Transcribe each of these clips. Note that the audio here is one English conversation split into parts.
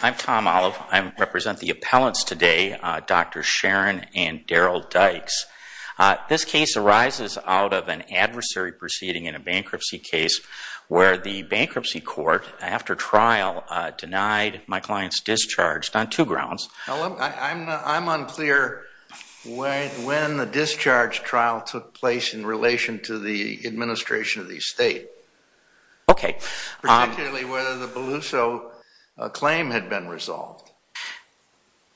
I'm Tom Olive. I represent the appellants today, Dr. Sharon and Daryll Dykes. This case arises out of an adversary proceeding in a bankruptcy case where the bankruptcy court after trial denied my client's discharge on two grounds. I'm unclear when the discharge trial took place in relation to the administration of the estate. Okay. Particularly whether the discharge plan had been resolved.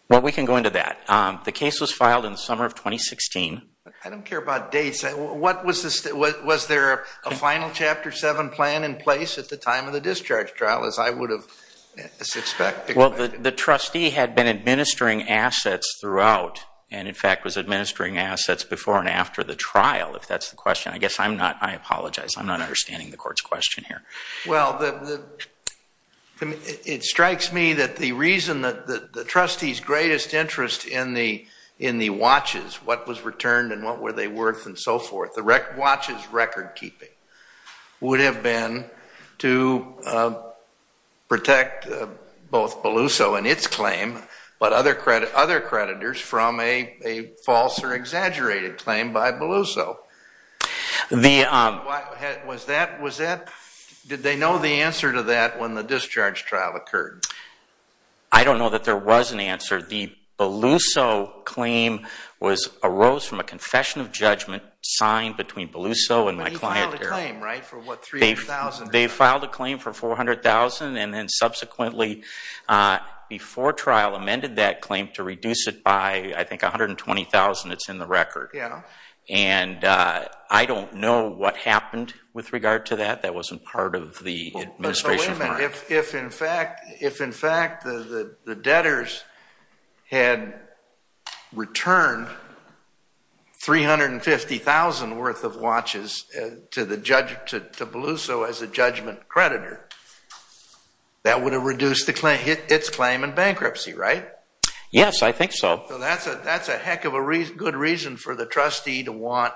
Well, we can go into that. The case was filed in the summer of 2016. I don't care about dates. Was there a final Chapter 7 plan in place at the time of the discharge trial as I would have suspected? Well, the trustee had been administering assets throughout and in fact was administering assets before and after the trial if that's the question. I guess I'm not, I apologize, I'm not understanding the court's question here. Well, it strikes me that the reason that the trustee's greatest interest in the watches, what was returned and what were they worth and so forth, the watch's record keeping would have been to protect both Beluso and its claim but other creditors from a false or exaggerated claim by Beluso. Did they know the answer to that when the discharge trial occurred? I don't know that there was an answer. The Beluso claim was, arose from a confession of judgment signed between Beluso and my client Darrell. But he filed a claim, right? For what, $300,000? They filed a claim for $400,000 and then subsequently before trial amended that claim to reduce it by I think $120,000. It's in the record. Yeah. And I don't know what happened with regard to that. That wasn't part of the administration. If in fact the debtors had returned $350,000 worth of watches to Beluso as a judgment creditor, that would have reduced its claim in bankruptcy, right? Yes, I think so. So that's a heck of a good reason for the trustee to want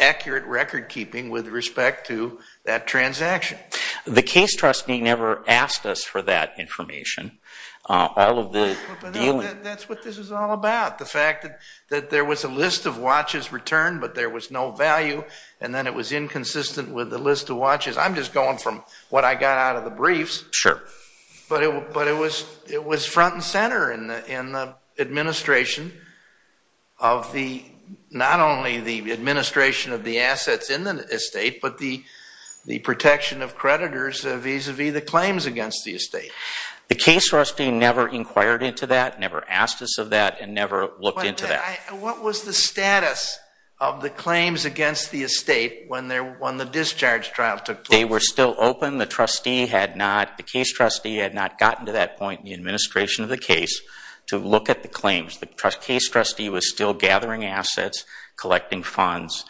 accurate record keeping with respect to that transaction. The case trustee never asked us for that information. All of the dealing. That's what this is all about. The fact that there was a list of watches returned but there was no value and then it was inconsistent with the list of watches. I'm just going from what I got out of the briefs. Sure. But it was front and center in the administration of the, not only the administration of the assets in the estate, but the protection of creditors vis-a-vis the claims against the estate. The case trustee never inquired into that, never asked us of that, and never looked into that. What was the status of the claims against the estate when the discharge trial took place? They were still open. The trustee had not, the case trustee had not gotten to that point in the administration of the case to look at the claims. The case trustee was still gathering assets, collecting funds,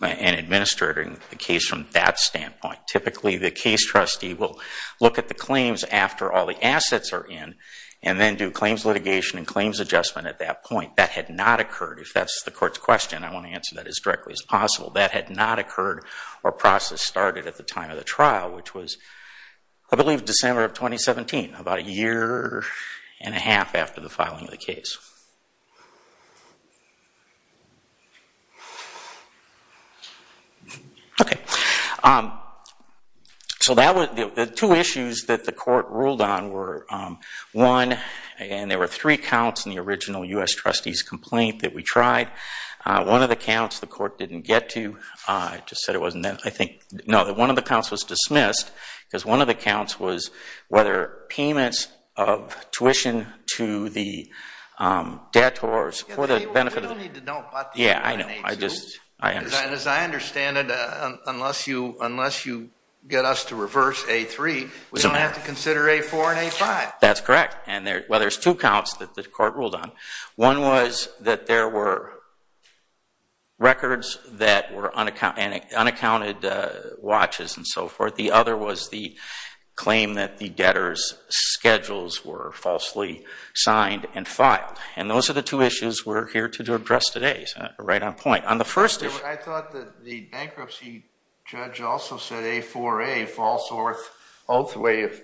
and administering the case from that standpoint. Typically the case trustee will look at the claims after all the assets are in and then do claims litigation and claims adjustment at that point. That had not occurred. If that's the court's question, I want to answer that as directly as possible. That had not occurred or process started at the time of the trial, which was I believe December of 2017, about a year and a half after the filing of the case. Okay. So that was, the two issues that the court ruled on were, one, and there were three case trustees complaint that we tried. One of the counts the court didn't get to, I just said it wasn't that, I think, no, that one of the counts was dismissed because one of the counts was whether payments of tuition to the debtors for the benefit of, yeah, I know, I just, I understand. As I understand it, unless you, unless you get us to reverse A3, we don't have to consider A4 and A5. That's correct. And there, well, there's two counts that the court ruled on. One was that there were records that were unaccounted, unaccounted watches and so forth. The other was the claim that the debtors schedules were falsely signed and filed. And those are the two issues we're here to address today, right on point. On the first issue. I thought that the bankruptcy judge also said A4A, false oath way of,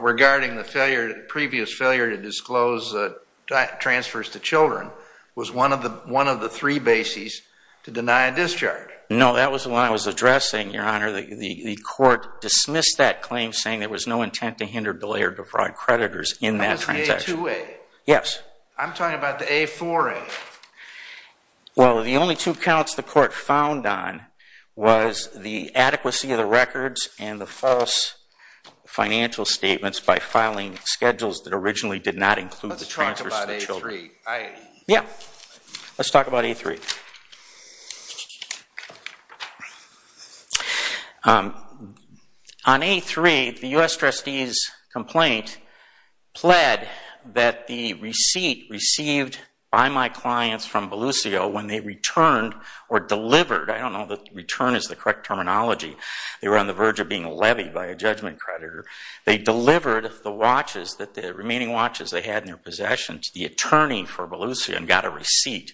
regarding the failure, previous failure to disclose transfers to children, was one of the, one of the three bases to deny a discharge. No, that was when I was addressing, Your Honor, the court dismissed that claim saying there was no intent to hinder, delay, or defraud creditors in that transaction. That was A2A. Yes. I'm talking about the A4A. Well, the only two counts the court found on was the adequacy of the records and the false financial statements by filing schedules that originally did not include transfers to children. Let's talk about A3. Yeah, let's talk about A3. On A3, the U.S. trustee's complaint pled that the receipt received by my clients from Belluccio when they returned or delivered, I don't know that return is the correct terminology, they were on the verge of being levied by a judgment creditor, they delivered the watches that the remaining watches they had in their possession to the attorney for Belluccio and got a receipt.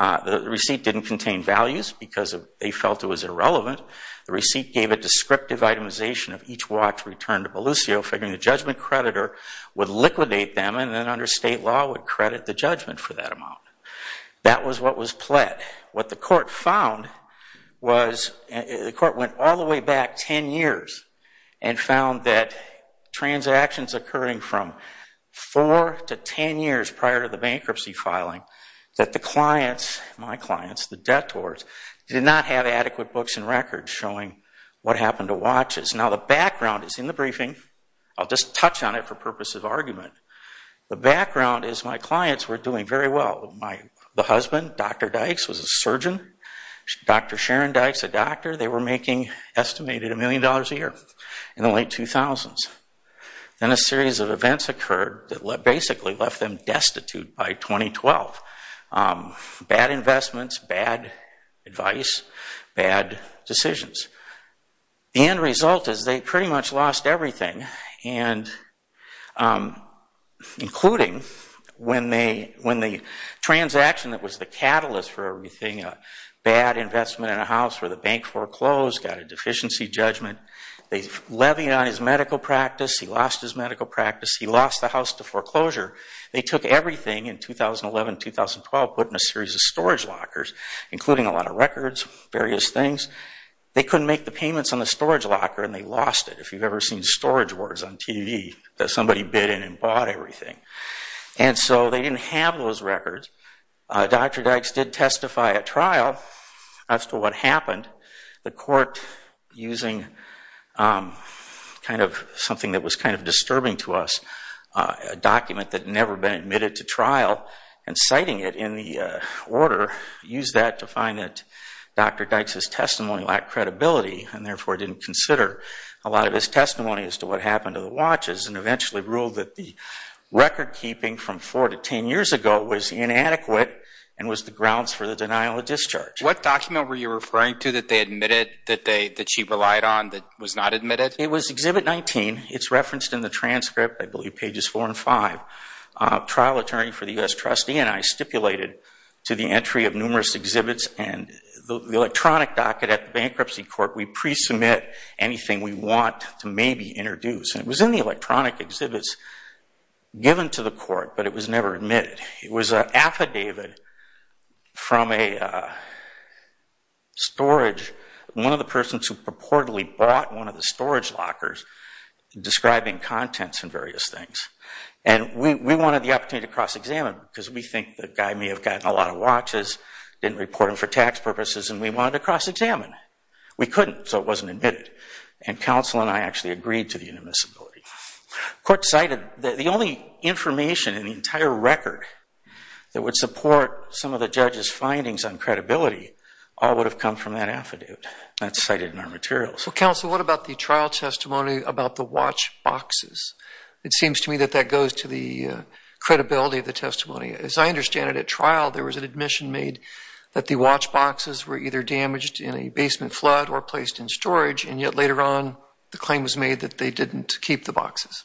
The receipt didn't contain values because they felt it was irrelevant. The receipt gave a descriptive itemization of each watch returned to Belluccio figuring the judgment creditor would liquidate them and then under state law would credit the judgment for that amount. That was what was pled. What the court found was, the court went all the way back 10 years and found that transactions occurring from 4 to 10 years prior to the bankruptcy filing that the clients, my clients, the debtors, did not have adequate books and records showing what happened to watches. Now the background is in the briefing. I'll just touch on it for purposes of argument. The background is my clients were doing very well. The husband, Dr. Dykes, was a surgeon. Dr. Sharon Dykes, a doctor, they were making estimated a million dollars a year in the late 2000s. Then a series of events occurred that basically left them destitute by 2012. Bad investments, bad advice, bad decisions. The end result is they pretty much lost everything, including when the transaction that was the catalyst for everything, a bad investment in a house where the bank foreclosed, got a deficiency judgment. They levied on his medical practice. He lost his medical practice. He lost the house to foreclosure. They took everything in 2011-2012, put in a series of storage lockers, including a lot of records, various things. They couldn't make the payments on the storage locker and they lost it. If you've ever seen storage wards on TV that somebody bid in and bought everything. And so they didn't have those records. Dr. Dykes did testify at trial as to what happened. The court, using something that was kind of disturbing to us, a document that had never been admitted to trial and citing it in the order, used that to find that Dr. Dykes' testimony lacked credibility and therefore didn't consider a lot of his testimony as to what happened to the watches and eventually ruled that the record keeping from four to ten years ago was inadequate and was the grounds for the denial of discharge. What document were you referring to that they admitted that she relied on that was not admitted? It was Exhibit 19. It's referenced in the transcript, I believe pages four and five. Trial attorney for the U.S. trustee and I stipulated to the entry of numerous exhibits and the electronic docket at the bankruptcy court, we pre-submit anything we want to maybe introduce. And it was in the electronic exhibits given to the court but it was never admitted. It was an affidavit from a storage, one of the persons who purportedly bought one of the storage lockers describing contents and various things. And we wanted the opportunity to cross-examine because we think the guy may have gotten a lot of watches, didn't report him for tax purposes, and we wanted to cross-examine. We couldn't so it wasn't admitted. And counsel and I actually agreed to the inadmissibility. Court cited that the only information in the entire record that would support some of the judge's findings on credibility all would have come from that affidavit that's cited in our materials. So counsel what about the trial testimony about the watch boxes? It seems to me that that goes to the credibility of the testimony. As I understand it at trial there was an admission made that the watch boxes were either damaged in a basement flood or placed in storage and yet later on the claim was made that they didn't keep the boxes.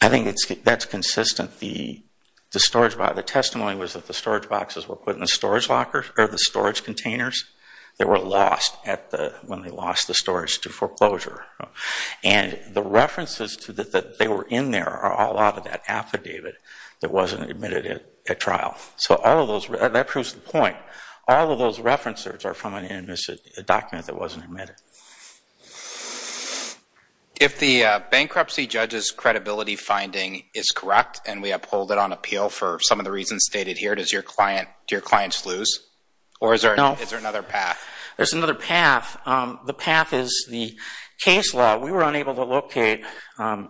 I think that's consistent. The storage, the testimony was that the storage boxes were put in the storage lockers or the storage containers that were lost at the, when they lost the storage to foreclosure. And the references to that they were in there are all out of that affidavit that wasn't admitted at trial. So all of those, that proves the point. All of those references are from an inadmissibility document that wasn't admitted. If the bankruptcy judge's credibility finding is correct and we uphold it on appeal for some of the reasons stated here, does your client, do your clients lose? Or is there another path? There's another path. The path is the case law. We were unable to locate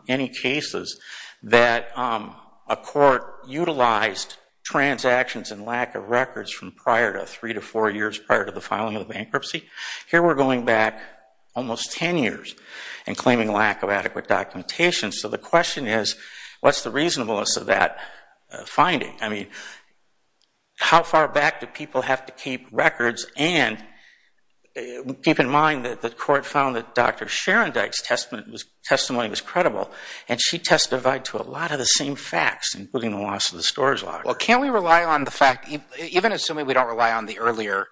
any cases that a court utilized transactions and lack of records from prior to three to four years prior to the filing of bankruptcy. Here we're going back almost 10 years and claiming lack of adequate documentation. So the question is, what's the reasonableness of that finding? I mean, how far back do people have to keep records and keep in mind that the court found that Dr. Sharon Dyke's testimony was credible and she testified to a lot of the same facts, including the loss of the storage locker? Well, can't we rely on the fact, even assuming we don't rely on the earlier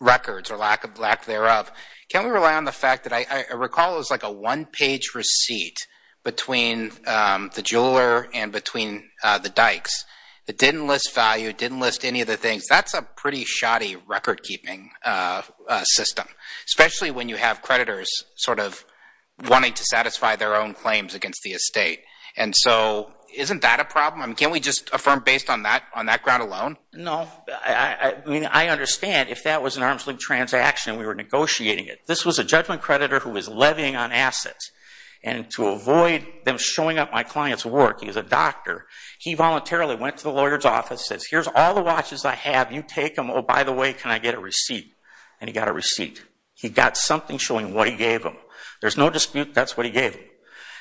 records or lack thereof, can we rely on the fact that I recall it was like a one-page receipt between the jeweler and between the Dykes that didn't list value, didn't list any of the things. That's a pretty sort of wanting to satisfy their own claims against the estate. And so isn't that a problem? Can't we just affirm based on that ground alone? No. I mean, I understand if that was an arm's length transaction, we were negotiating it. This was a judgment creditor who was levying on assets and to avoid them showing up my client's work, he's a doctor, he voluntarily went to the lawyer's office, says, here's all the watches I have. You take them. Oh, by the way, can I get a receipt? And he got a receipt. He got something showing what he gave him. There's no dispute that's what he gave him.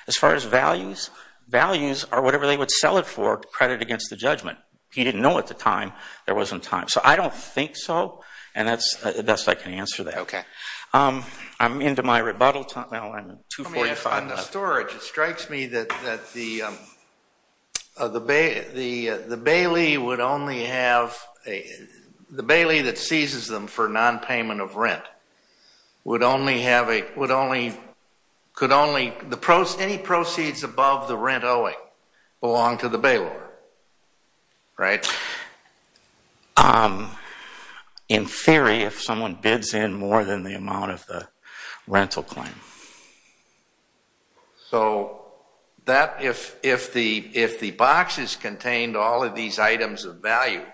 As far as values, values are whatever they would sell it for credit against the judgment. He didn't know at the time there wasn't time. So I don't think so, and that's the best I can answer that. Okay. I'm into my rebuttal time now. I'm 245. On the storage, it strikes me that the the bailey would only have a the bailey that seizes them for non-payment of rent would only have a would only could only the pros any proceeds above the rent owing belong to the bailor, right? In theory, if someone bids in more than the amount of the rental claim. So that if the if the boxes contained all of these items of value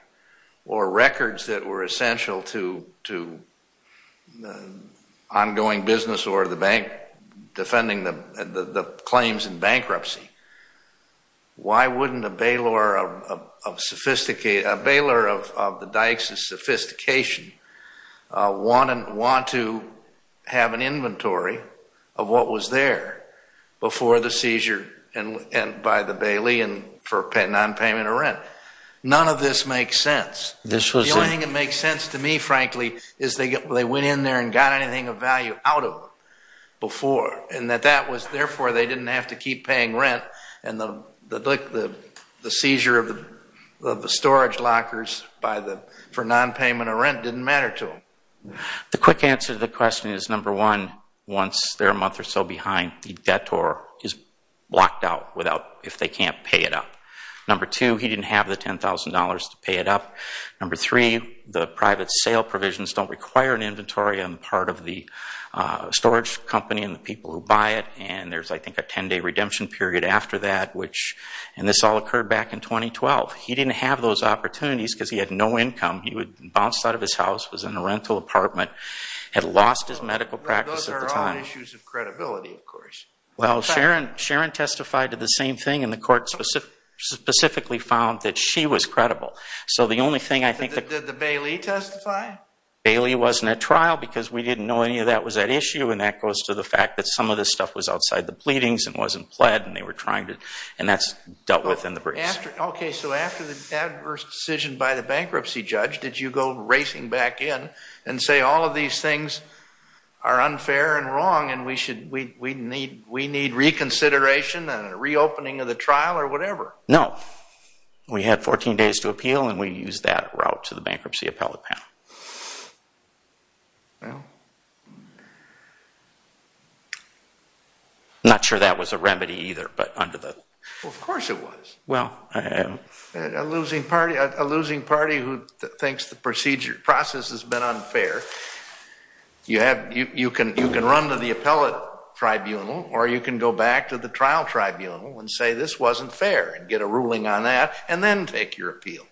or records that were essential to ongoing business or the bank defending the claims in bankruptcy, why wouldn't a bailor of sophisticated, a bailor of the dykes of sophistication want to have an inventory of what was there before the seizure and by the bailey and for non-payment of rent? None of this makes sense. The only thing that makes sense to me, frankly, is they went in there and got anything of value out of them before and that that was therefore they didn't have to keep paying rent and the seizure of the storage lockers for non-payment of rent didn't matter to them. The quick answer to the question is number one, once they're a month or so behind the debtor is blocked out without if they can't pay it up. Number two, he didn't have the ten thousand dollars to pay it up. Number three, the private sale provisions don't require an inventory on part of the storage company and the people who buy it and there's I think a 10-day redemption period after that which and this all occurred back in 2012. He didn't have those opportunities because he had no income. He would bounce out of his house, was in a rental apartment, had lost his medical practice at the time. Those are all issues of credibility of course. Well, Sharon testified to the same thing and the court specifically found that she was credible. So the only thing I think that... Did the bailey testify? Bailey wasn't at trial because we didn't know any of that was that issue and that goes to the fact that some of this stuff was outside the pleadings and wasn't pled and they were trying to and that's dealt with in the briefs. Okay, so after the adverse decision by the bankruptcy judge, did you go racing back in and say all of these things are unfair and wrong and we need reconsideration and a reopening of the trial or whatever? No, we had 14 days to appeal and we used that route to the bankruptcy trial. A losing party who thinks the procedure process has been unfair, you can run to the appellate tribunal or you can go back to the trial tribunal and say this wasn't fair and get a ruling on that and then take your appeal.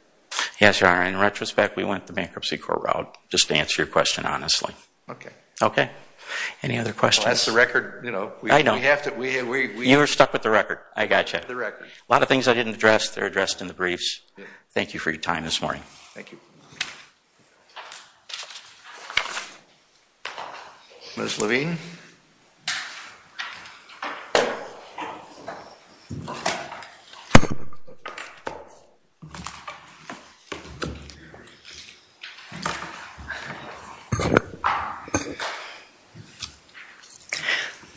Yes, Sharon, in retrospect we went the bankruptcy court route just to answer your question honestly. Okay. Okay, any other questions? That's the record, you know. I know. You were stuck with the record. I got you. A lot of things I didn't address, they're addressed in the briefs. Thank you for your time this morning. Thank you. Ms. Levine.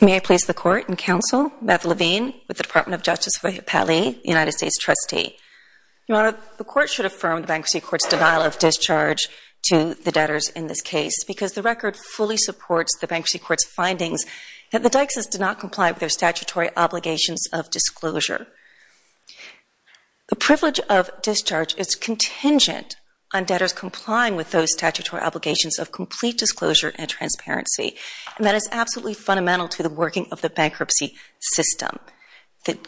May I please the court and counsel, Beth Levine with the Department of Justice for the United States trustee. Your Honor, the court should affirm the bankruptcy court's denial of discharge to the debtors in this case because the record fully supports the bankruptcy court's findings that the Dykes' did not comply with their statutory obligations of disclosure. The privilege of discharge is contingent on debtors complying with those statutory obligations of complete disclosure and transparency and that is absolutely fundamental to the working of the bankruptcy system. The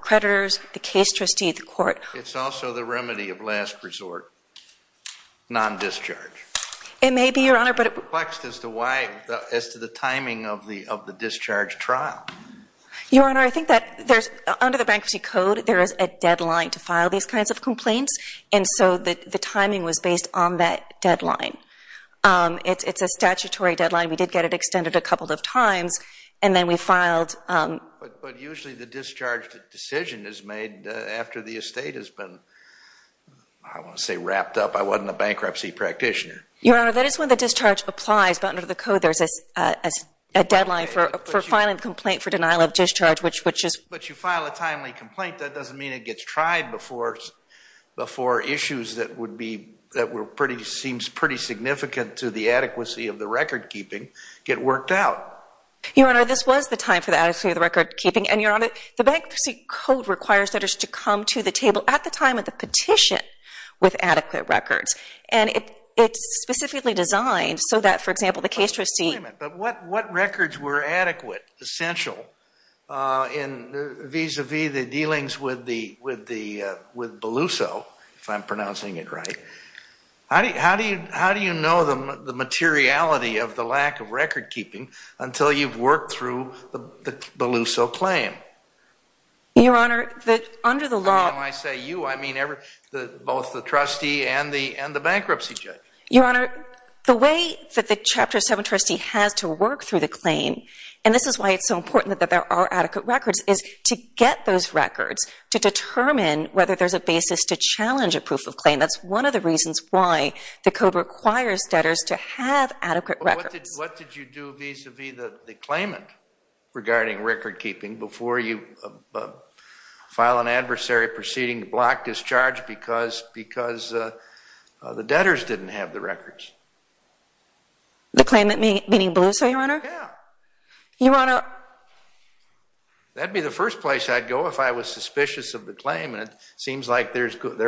creditors, the case trustee at the court. It's also the remedy of last resort, non-discharge. It may be, Your Honor, but. As to why, as to the timing of the of the discharge trial. Your Honor, I think that there's under the bankruptcy code there is a deadline to file these kinds of complaints and so that the timing was based on that deadline. It's a statutory deadline. We did get it extended a couple of times and then we filed. But usually the discharge decision is made after the estate has been, I want to say, wrapped up. I wasn't a bankruptcy practitioner. Your Honor, that is when the discharge applies but under the code there's a deadline for filing the complaint for denial of discharge which is. But you file a timely complaint. That doesn't mean it gets tried before before issues that would be that were pretty seems pretty significant to the adequacy of the record keeping get worked out. Your Honor, this was the time for the adequacy of the record keeping and Your Honor, the bankruptcy code requires that is to come to the table at the time of the petition with adequate records and it it's specifically designed so that, for example, the case trustee. But what what records were adequate, essential in vis-a-vis the dealings with the with the with Beluso, if I'm pronouncing it right. How do you how do you know them the materiality of the lack of record keeping until you've worked through the Beluso claim? Your Honor, that under the law. I say you, I mean every the both the trustee and the and the bankruptcy judge. Your Honor, the way that the Chapter 7 trustee has to work through the claim and this is why it's so important that there are adequate records is to get those records to determine whether there's a basis to challenge a proof of claim. That's one of the reasons why the code requires debtors to have adequate records. What did you do vis-a-vis the the claimant regarding record keeping before you file an adversary proceeding to block discharge because because the debtors didn't have the records? The claimant meaning Beluso, Your Honor? Yeah. Your Honor. That'd be the first place I'd go if I was suspicious of the claim and it seems like there's so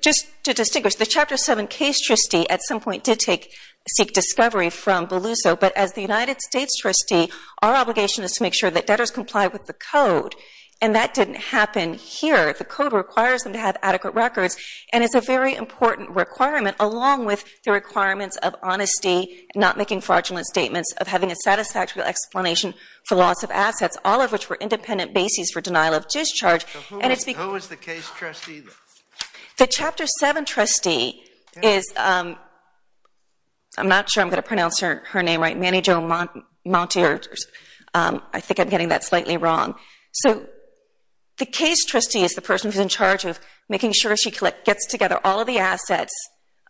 just to distinguish the Chapter 7 case trustee at some point did take seek discovery from Beluso but as the United States trustee our obligation is to make sure that debtors comply with the code and that didn't happen here. The code requires them to have adequate records and it's a very important requirement along with the requirements of honesty, not making fraudulent statements, of having a satisfactory explanation for loss of assets all of which were independent bases for denial of discharge. Who is the case trustee? The Chapter 7 trustee is, I'm not sure I'm going to pronounce her her name right, Manny Jo Monteers. I think I'm getting that slightly wrong. So the case trustee is the person who's in charge of making sure she gets together all of the assets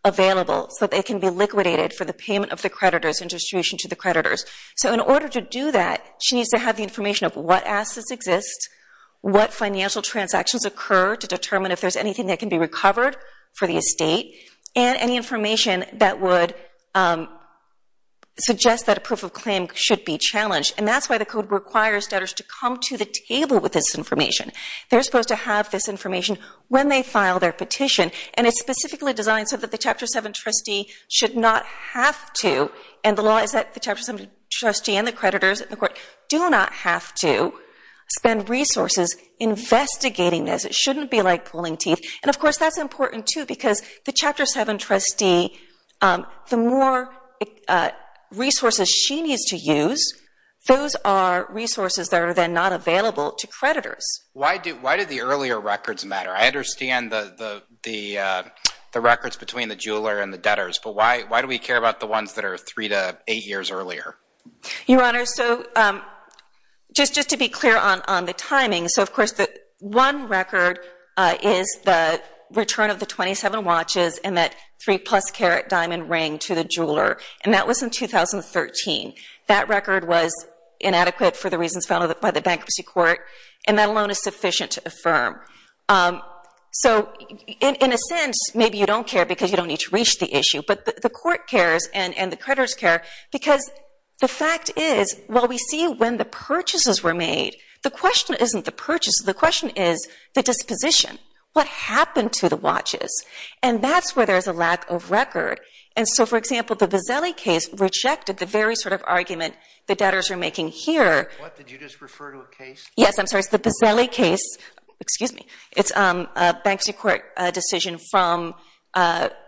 available so they can be liquidated for the payment of the creditors and distribution to the creditors. So in order to do that she needs to have the information of what assets exist, what financial transactions occur to determine if there's anything that can be recovered for the estate, and any information that would suggest that a proof of claim should be challenged and that's why the code requires debtors to come to the table with this information. They're supposed to have this information when they file their petition and it's specifically designed so the Chapter 7 trustee should not have to and the law is that the Chapter 7 trustee and the creditors in the court do not have to spend resources investigating this. It shouldn't be like pulling teeth and of course that's important too because the Chapter 7 trustee, the more resources she needs to use, those are resources that are then not available to creditors. Why do the earlier records matter? I understand the records between the jeweler and the debtors but why do we care about the ones that are three to eight years earlier? Your Honor, so just to be clear on the timing, so of course the one record is the return of the 27 watches and that three plus carat diamond ring to the jeweler and that was in 2013. That record was inadequate for the reasons found by the Bankruptcy Court and that alone is sufficient to affirm. So in a sense maybe you don't care because you don't need to reach the issue but the court cares and the creditors care because the fact is while we see when the purchases were made, the question isn't the purchase, the question is the disposition. What happened to the watches? And that's where there's a lack of record and so for example the Bozzelli case rejected the argument the debtors are making here. What did you just refer to a case? Yes, I'm sorry, it's the Bozzelli case, excuse me, it's a Bankruptcy Court decision from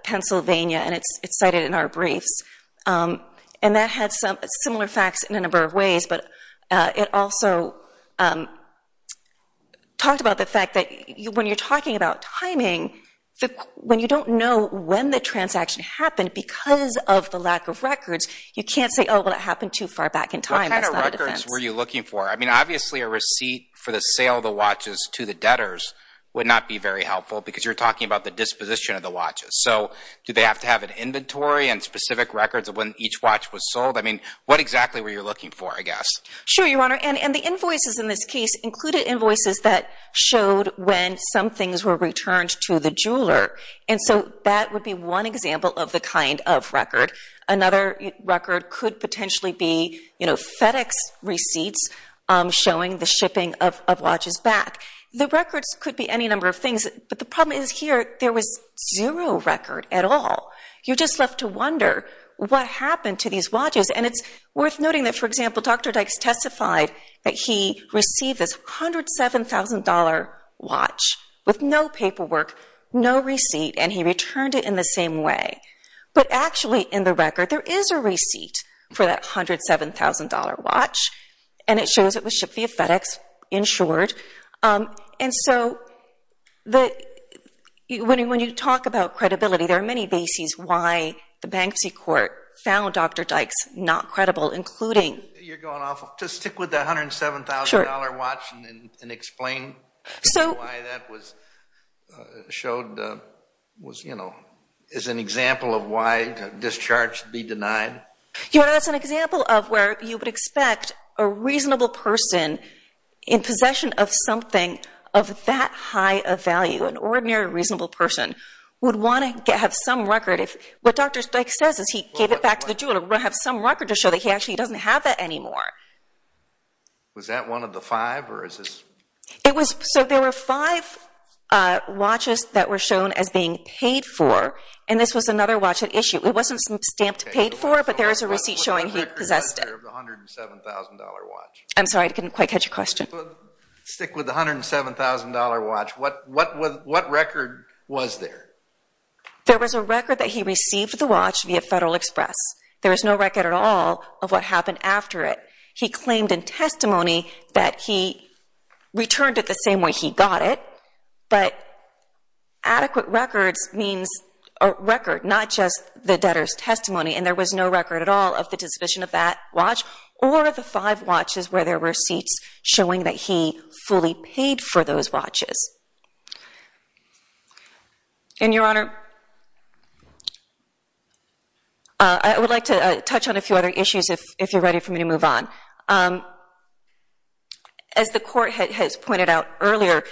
Pennsylvania and it's cited in our briefs and that had some similar facts in a number of ways but it also talked about the fact that when you're talking about timing, when you don't know when the transaction happened because of the happened too far back in time. What kind of records were you looking for? I mean obviously a receipt for the sale of the watches to the debtors would not be very helpful because you're talking about the disposition of the watches. So do they have to have an inventory and specific records of when each watch was sold? I mean what exactly were you looking for I guess? Sure your honor and the invoices in this case included invoices that showed when some things were returned to the jeweler and so that would be one example of the kind of record. Another record could potentially be you know FedEx receipts showing the shipping of watches back. The records could be any number of things but the problem is here there was zero record at all. You're just left to wonder what happened to these watches and it's worth noting that for example Dr. Dykes testified that he returned it in the same way but actually in the record there is a receipt for that $107,000 watch and it shows it was shipped via FedEx, insured. And so when you talk about credibility there are many bases why the bankruptcy court found Dr. Dykes not credible including... You're going was you know is an example of why discharge be denied? Your honor that's an example of where you would expect a reasonable person in possession of something of that high of value. An ordinary reasonable person would want to have some record if what Dr. Dykes says is he gave it back to the jeweler to have some record to show that he actually doesn't have that anymore. Was that one of the five or is this? It was so there were five watches that were shown as being paid for and this was another watch at issue. It wasn't stamped paid for but there is a receipt showing he possessed it. $107,000 watch. I'm sorry I couldn't quite catch your question. Stick with the $107,000 watch. What record was there? There was a record that he received the watch via Federal Express. There was no record at all of what happened after it. He claimed in testimony that he returned it the same way he got it but adequate records means a record not just the debtor's testimony and there was no record at all of the disposition of that watch or the five watches where there were seats showing that he fully paid for those watches. And Your Honor, I would like to touch on a few other issues if you're ready for me to move on. As the court has pointed out earlier,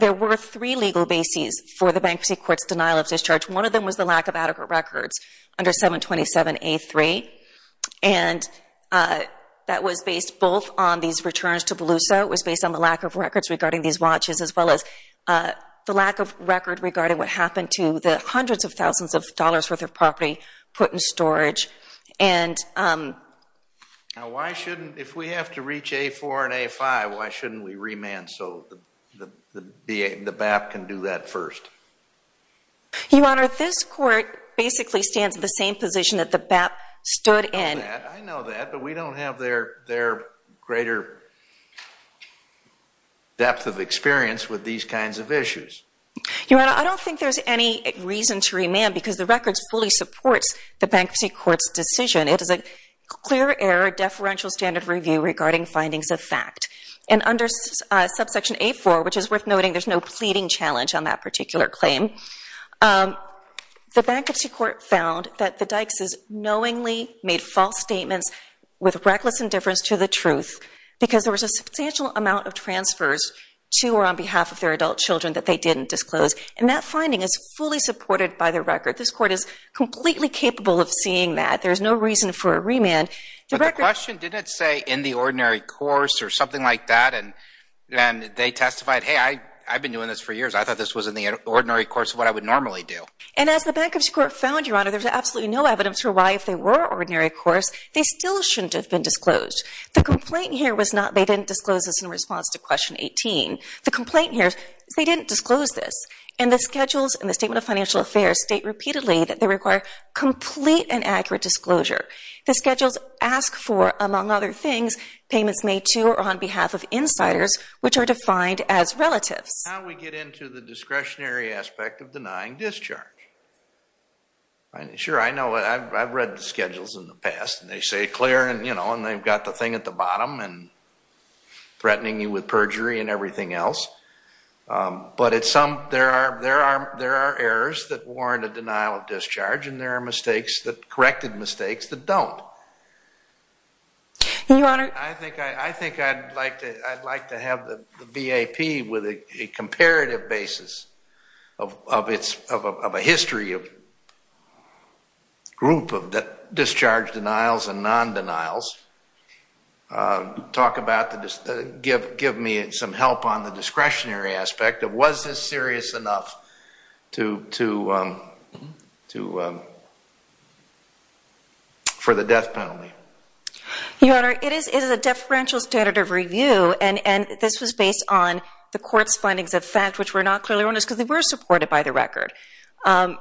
there were three legal bases for the Bankruptcy Court's denial of discharge. One of them was the lack of adequate records under 727A3 and that was based both on these returns to Beluso. It was based on the lack of records regarding these watches as well as the lack of record regarding what happened to the hundreds of thousands of dollars worth of property put in storage. Now why shouldn't, if we have to reach A4 and A5, why shouldn't we remand so the BAP can do that first? Your Honor, this court basically stands in the same position that BAP stood in. I know that but we don't have their greater depth of experience with these kinds of issues. Your Honor, I don't think there's any reason to remand because the records fully supports the Bankruptcy Court's decision. It is a clear error deferential standard review regarding findings of fact and under subsection A4, which is worth noting there's no pleading challenge on that knowingly made false statements with reckless indifference to the truth because there was a substantial amount of transfers to or on behalf of their adult children that they didn't disclose and that finding is fully supported by the record. This court is completely capable of seeing that. There's no reason for a remand. But the question didn't say in the ordinary course or something like that and they testified, hey I've been doing this for years. I thought this was in the ordinary course of what I would normally do. And as the Bankruptcy Court found, Your Honor, there's absolutely no evidence for why if they were ordinary course, they still shouldn't have been disclosed. The complaint here was not they didn't disclose this in response to question 18. The complaint here is they didn't disclose this and the schedules in the Statement of Financial Affairs state repeatedly that they require complete and accurate disclosure. The schedules ask for, among other things, payments made to or on behalf of insiders, which are defined as relatives. Now we get into the discretionary aspect of denying discharge. Sure, I know, I've read the schedules in the past and they say clear and you know and they've got the thing at the bottom and threatening you with perjury and everything else. But at some, there are errors that warrant a denial of discharge and there are mistakes that, corrected mistakes, that don't. Your Honor. I think I'd like to have the BAP with a comparative basis of a history of group of discharge denials and non-denials. Talk about, give me some help on the discretionary of was this serious enough for the death penalty. Your Honor, it is a deferential standard of review and this was based on the court's findings of fact, which were not clearly honest because they were supported by the record. The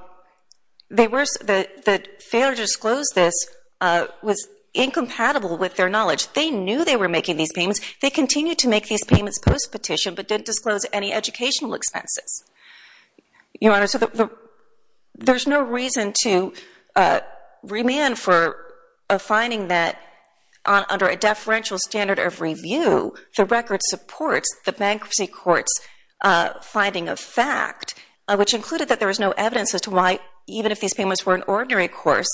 failure to disclose this was incompatible with their knowledge. They knew they were making these payments. They continued to make these payments post-petition but didn't disclose any educational expenses. Your Honor, so there's no reason to remand for a finding that under a deferential standard of review, the record supports the bankruptcy court's finding of fact, which included that there was no evidence as to why even if these payments were an ordinary course,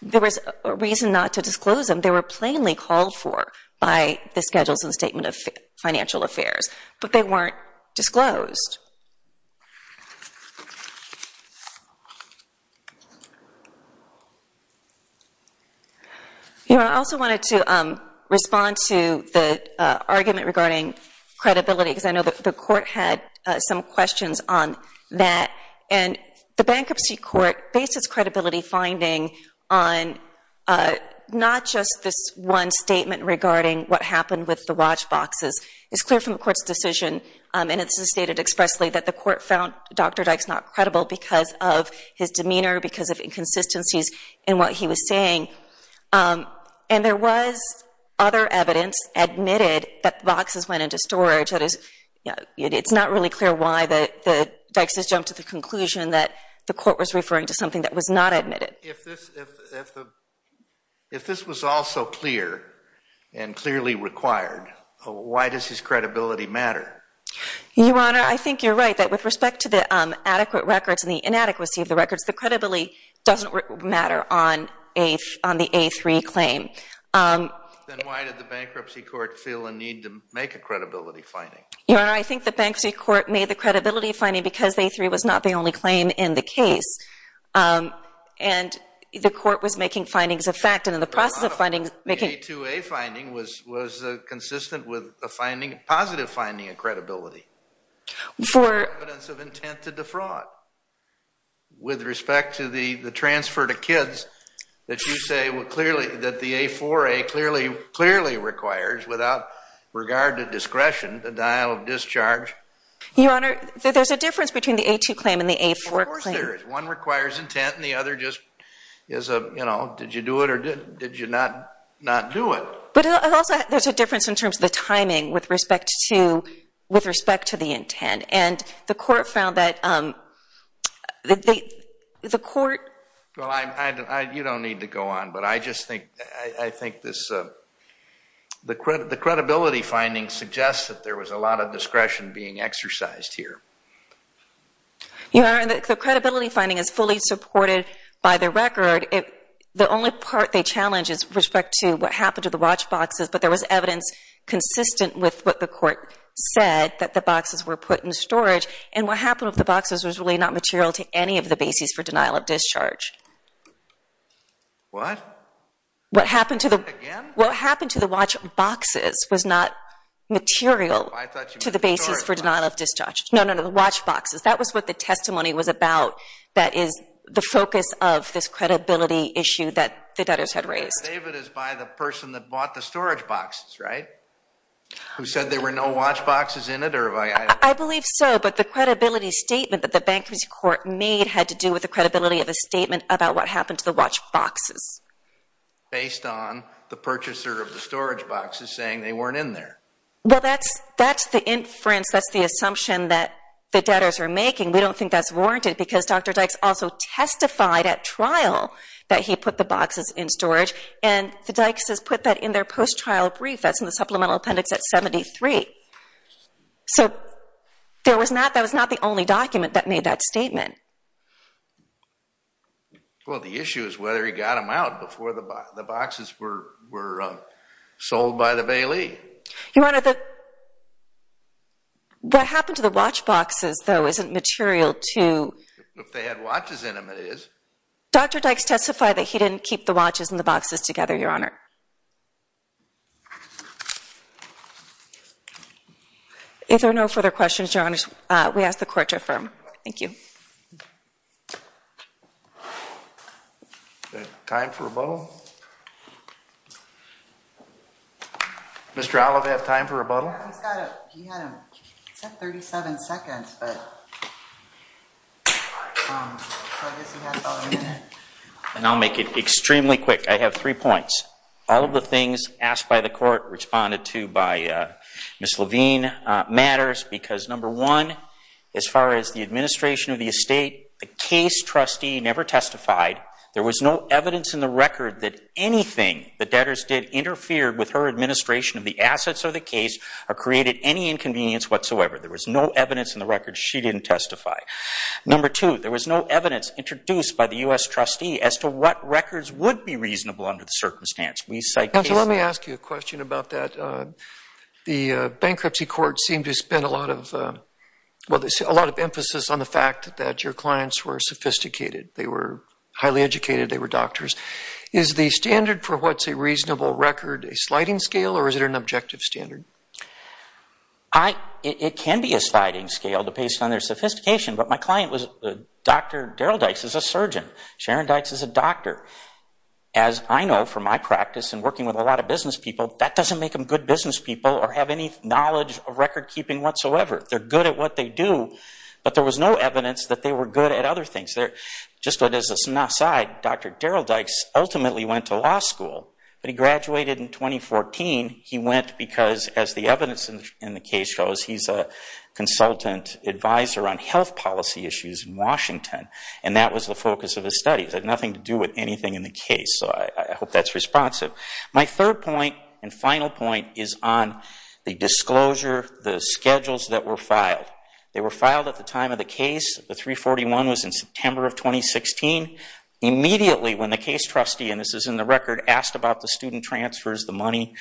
there was a reason not to disclose them. They were plainly affairs but they weren't disclosed. Your Honor, I also wanted to respond to the argument regarding credibility because I know that the court had some questions on that and the bankruptcy court based its credibility finding on not just this one statement regarding what happened with the watch boxes. It's clear from the court's decision and it's stated expressly that the court found Dr. Dykes not credible because of his demeanor, because of inconsistencies in what he was saying and there was other evidence admitted that the boxes went into storage. It's not really clear why Dykes has jumped to the conclusion that the court was referring to something that was not why does his credibility matter? Your Honor, I think you're right that with respect to the adequate records and the inadequacy of the records, the credibility doesn't matter on the A3 claim. Then why did the bankruptcy court feel a need to make a credibility finding? Your Honor, I think the bankruptcy court made the credibility finding because A3 was not the only claim in the case and the court was making findings of fact and in the process of finding A2A finding was consistent with a positive finding of credibility. For evidence of intent to defraud with respect to the transfer to kids that you say that the A4A clearly requires without regard to discretion the dial of discharge. Your Honor, there's a difference between the A2 claim and the A4 claim. Of course there is. One requires intent and the other just is a you know did you do it or did did you not not do it. But also there's a difference in terms of the timing with respect to with respect to the intent and the court found that the court. Well, you don't need to go on but I just think I think this the credit the credibility finding suggests that there was a lot of discretion being exercised here. Your Honor, the credibility finding is fully supported by the record. The only part they challenge is respect to what happened to the watch boxes but there was evidence consistent with what the court said that the boxes were put in storage and what happened with the boxes was really not material to any of the bases for denial of discharge. What? What happened to the again? What happened to the watch boxes was not material to the basis for denial of discharge. No, no, the watch boxes. That was what the testimony was about. That is the focus of this credibility issue that the debtors had raised. David is by the person that bought the storage boxes, right? Who said there were no watch boxes in it or? I believe so but the credibility statement that the bankruptcy court made had to do with the credibility of a statement about what happened to the watch boxes. Based on the purchaser of the storage boxes saying they weren't in there. Well, that's the inference. That's the assumption that the debtors are making. We don't think that's warranted because Dr. Dykes also testified at trial that he put the boxes in storage and the Dykes has put that in their post-trial brief that's in the supplemental appendix at 73. So that was not the only document that made that statement. Well, the issue is whether he got them out before the boxes were sold by the Bailey. Your Honor, what happened to the watch boxes though isn't material to. If they had watches in them, it is. Dr. Dykes testified that he didn't keep the watches and the boxes together, Your Honor. If there are no further questions, Your Honors, we ask the court to affirm. Thank you. Time for a vote. Mr. Olive, do you have time for a rebuttal? And I'll make it extremely quick. I have three points. All of the things asked by the court, responded to by Ms. Levine matters because number one, as far as the administration of the estate, the case trustee never testified. There was no evidence in the record that anything the debtors did interfered with her administration of the assets of the case or created any inconvenience whatsoever. There was no evidence in the record. She didn't testify. Number two, there was no evidence introduced by the U.S. trustee as to what records would be reasonable under the circumstance. We cite cases... Counselor, let me ask you a question about that. The bankruptcy court seemed to spend a lot of emphasis on the fact that your clients were sophisticated. They were highly educated. They were doctors. Is the standard for what's a reasonable record a sliding scale or is it an objective standard? It can be a sliding scale based on their sophistication, but my client was Dr. Daryl Dykes is a surgeon. Sharon Dykes is a doctor. As I know from my practice and working with a lot of business people, that doesn't make them good business people or have any knowledge of record keeping whatsoever. They're good at what they do, but there was no evidence that they were good at other things. Just as an aside, Dr. Daryl Dykes ultimately went to law school, but he graduated in 2014. He went because, as the evidence in the case shows, he's a consultant advisor on health policy issues in Washington, and that was the focus of his studies. It had nothing to do with anything in the case, so I hope that's responsive. My third point and final point is on the disclosure, the schedules that were filed. They were filed at the time of the case. The 341 was in September of 2016. Immediately when the case trustee, and this is in the record, asked about the student transfers, the money,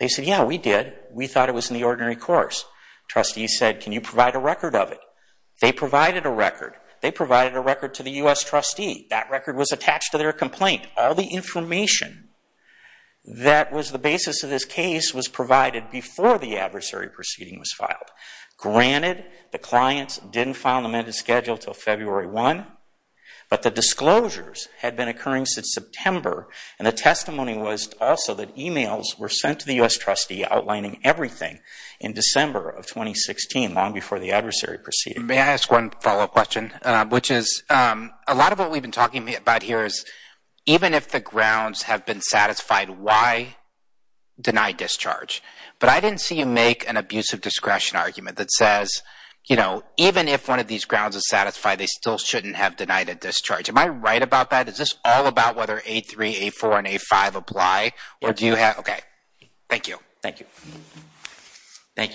they said, yeah, we did. We thought it was in the ordinary course. Trustees said, can you provide a record of it? They provided a record. They provided a record to the U.S. trustee. That record was attached to their complaint. All the information that was the basis of this case was provided before the adversary proceeding was filed. Granted, the clients didn't file an amended schedule until February 1, but the disclosures had been occurring since September, and the testimony was also that emails were sent to the U.S. trustee outlining everything in December of 2016, long before the adversary proceeded. May I ask one follow-up question, which is a lot of what we've been talking about here is even if the grounds have been satisfied, why deny discharge? But I didn't see you make an abusive discretion argument that says, you know, even if one of these grounds is satisfied, they still shouldn't have denied a discharge. Am I right about that? Is this all about whether A3, A4, and A5 apply, or do you have – okay. Thank you. Thank you. Thank you.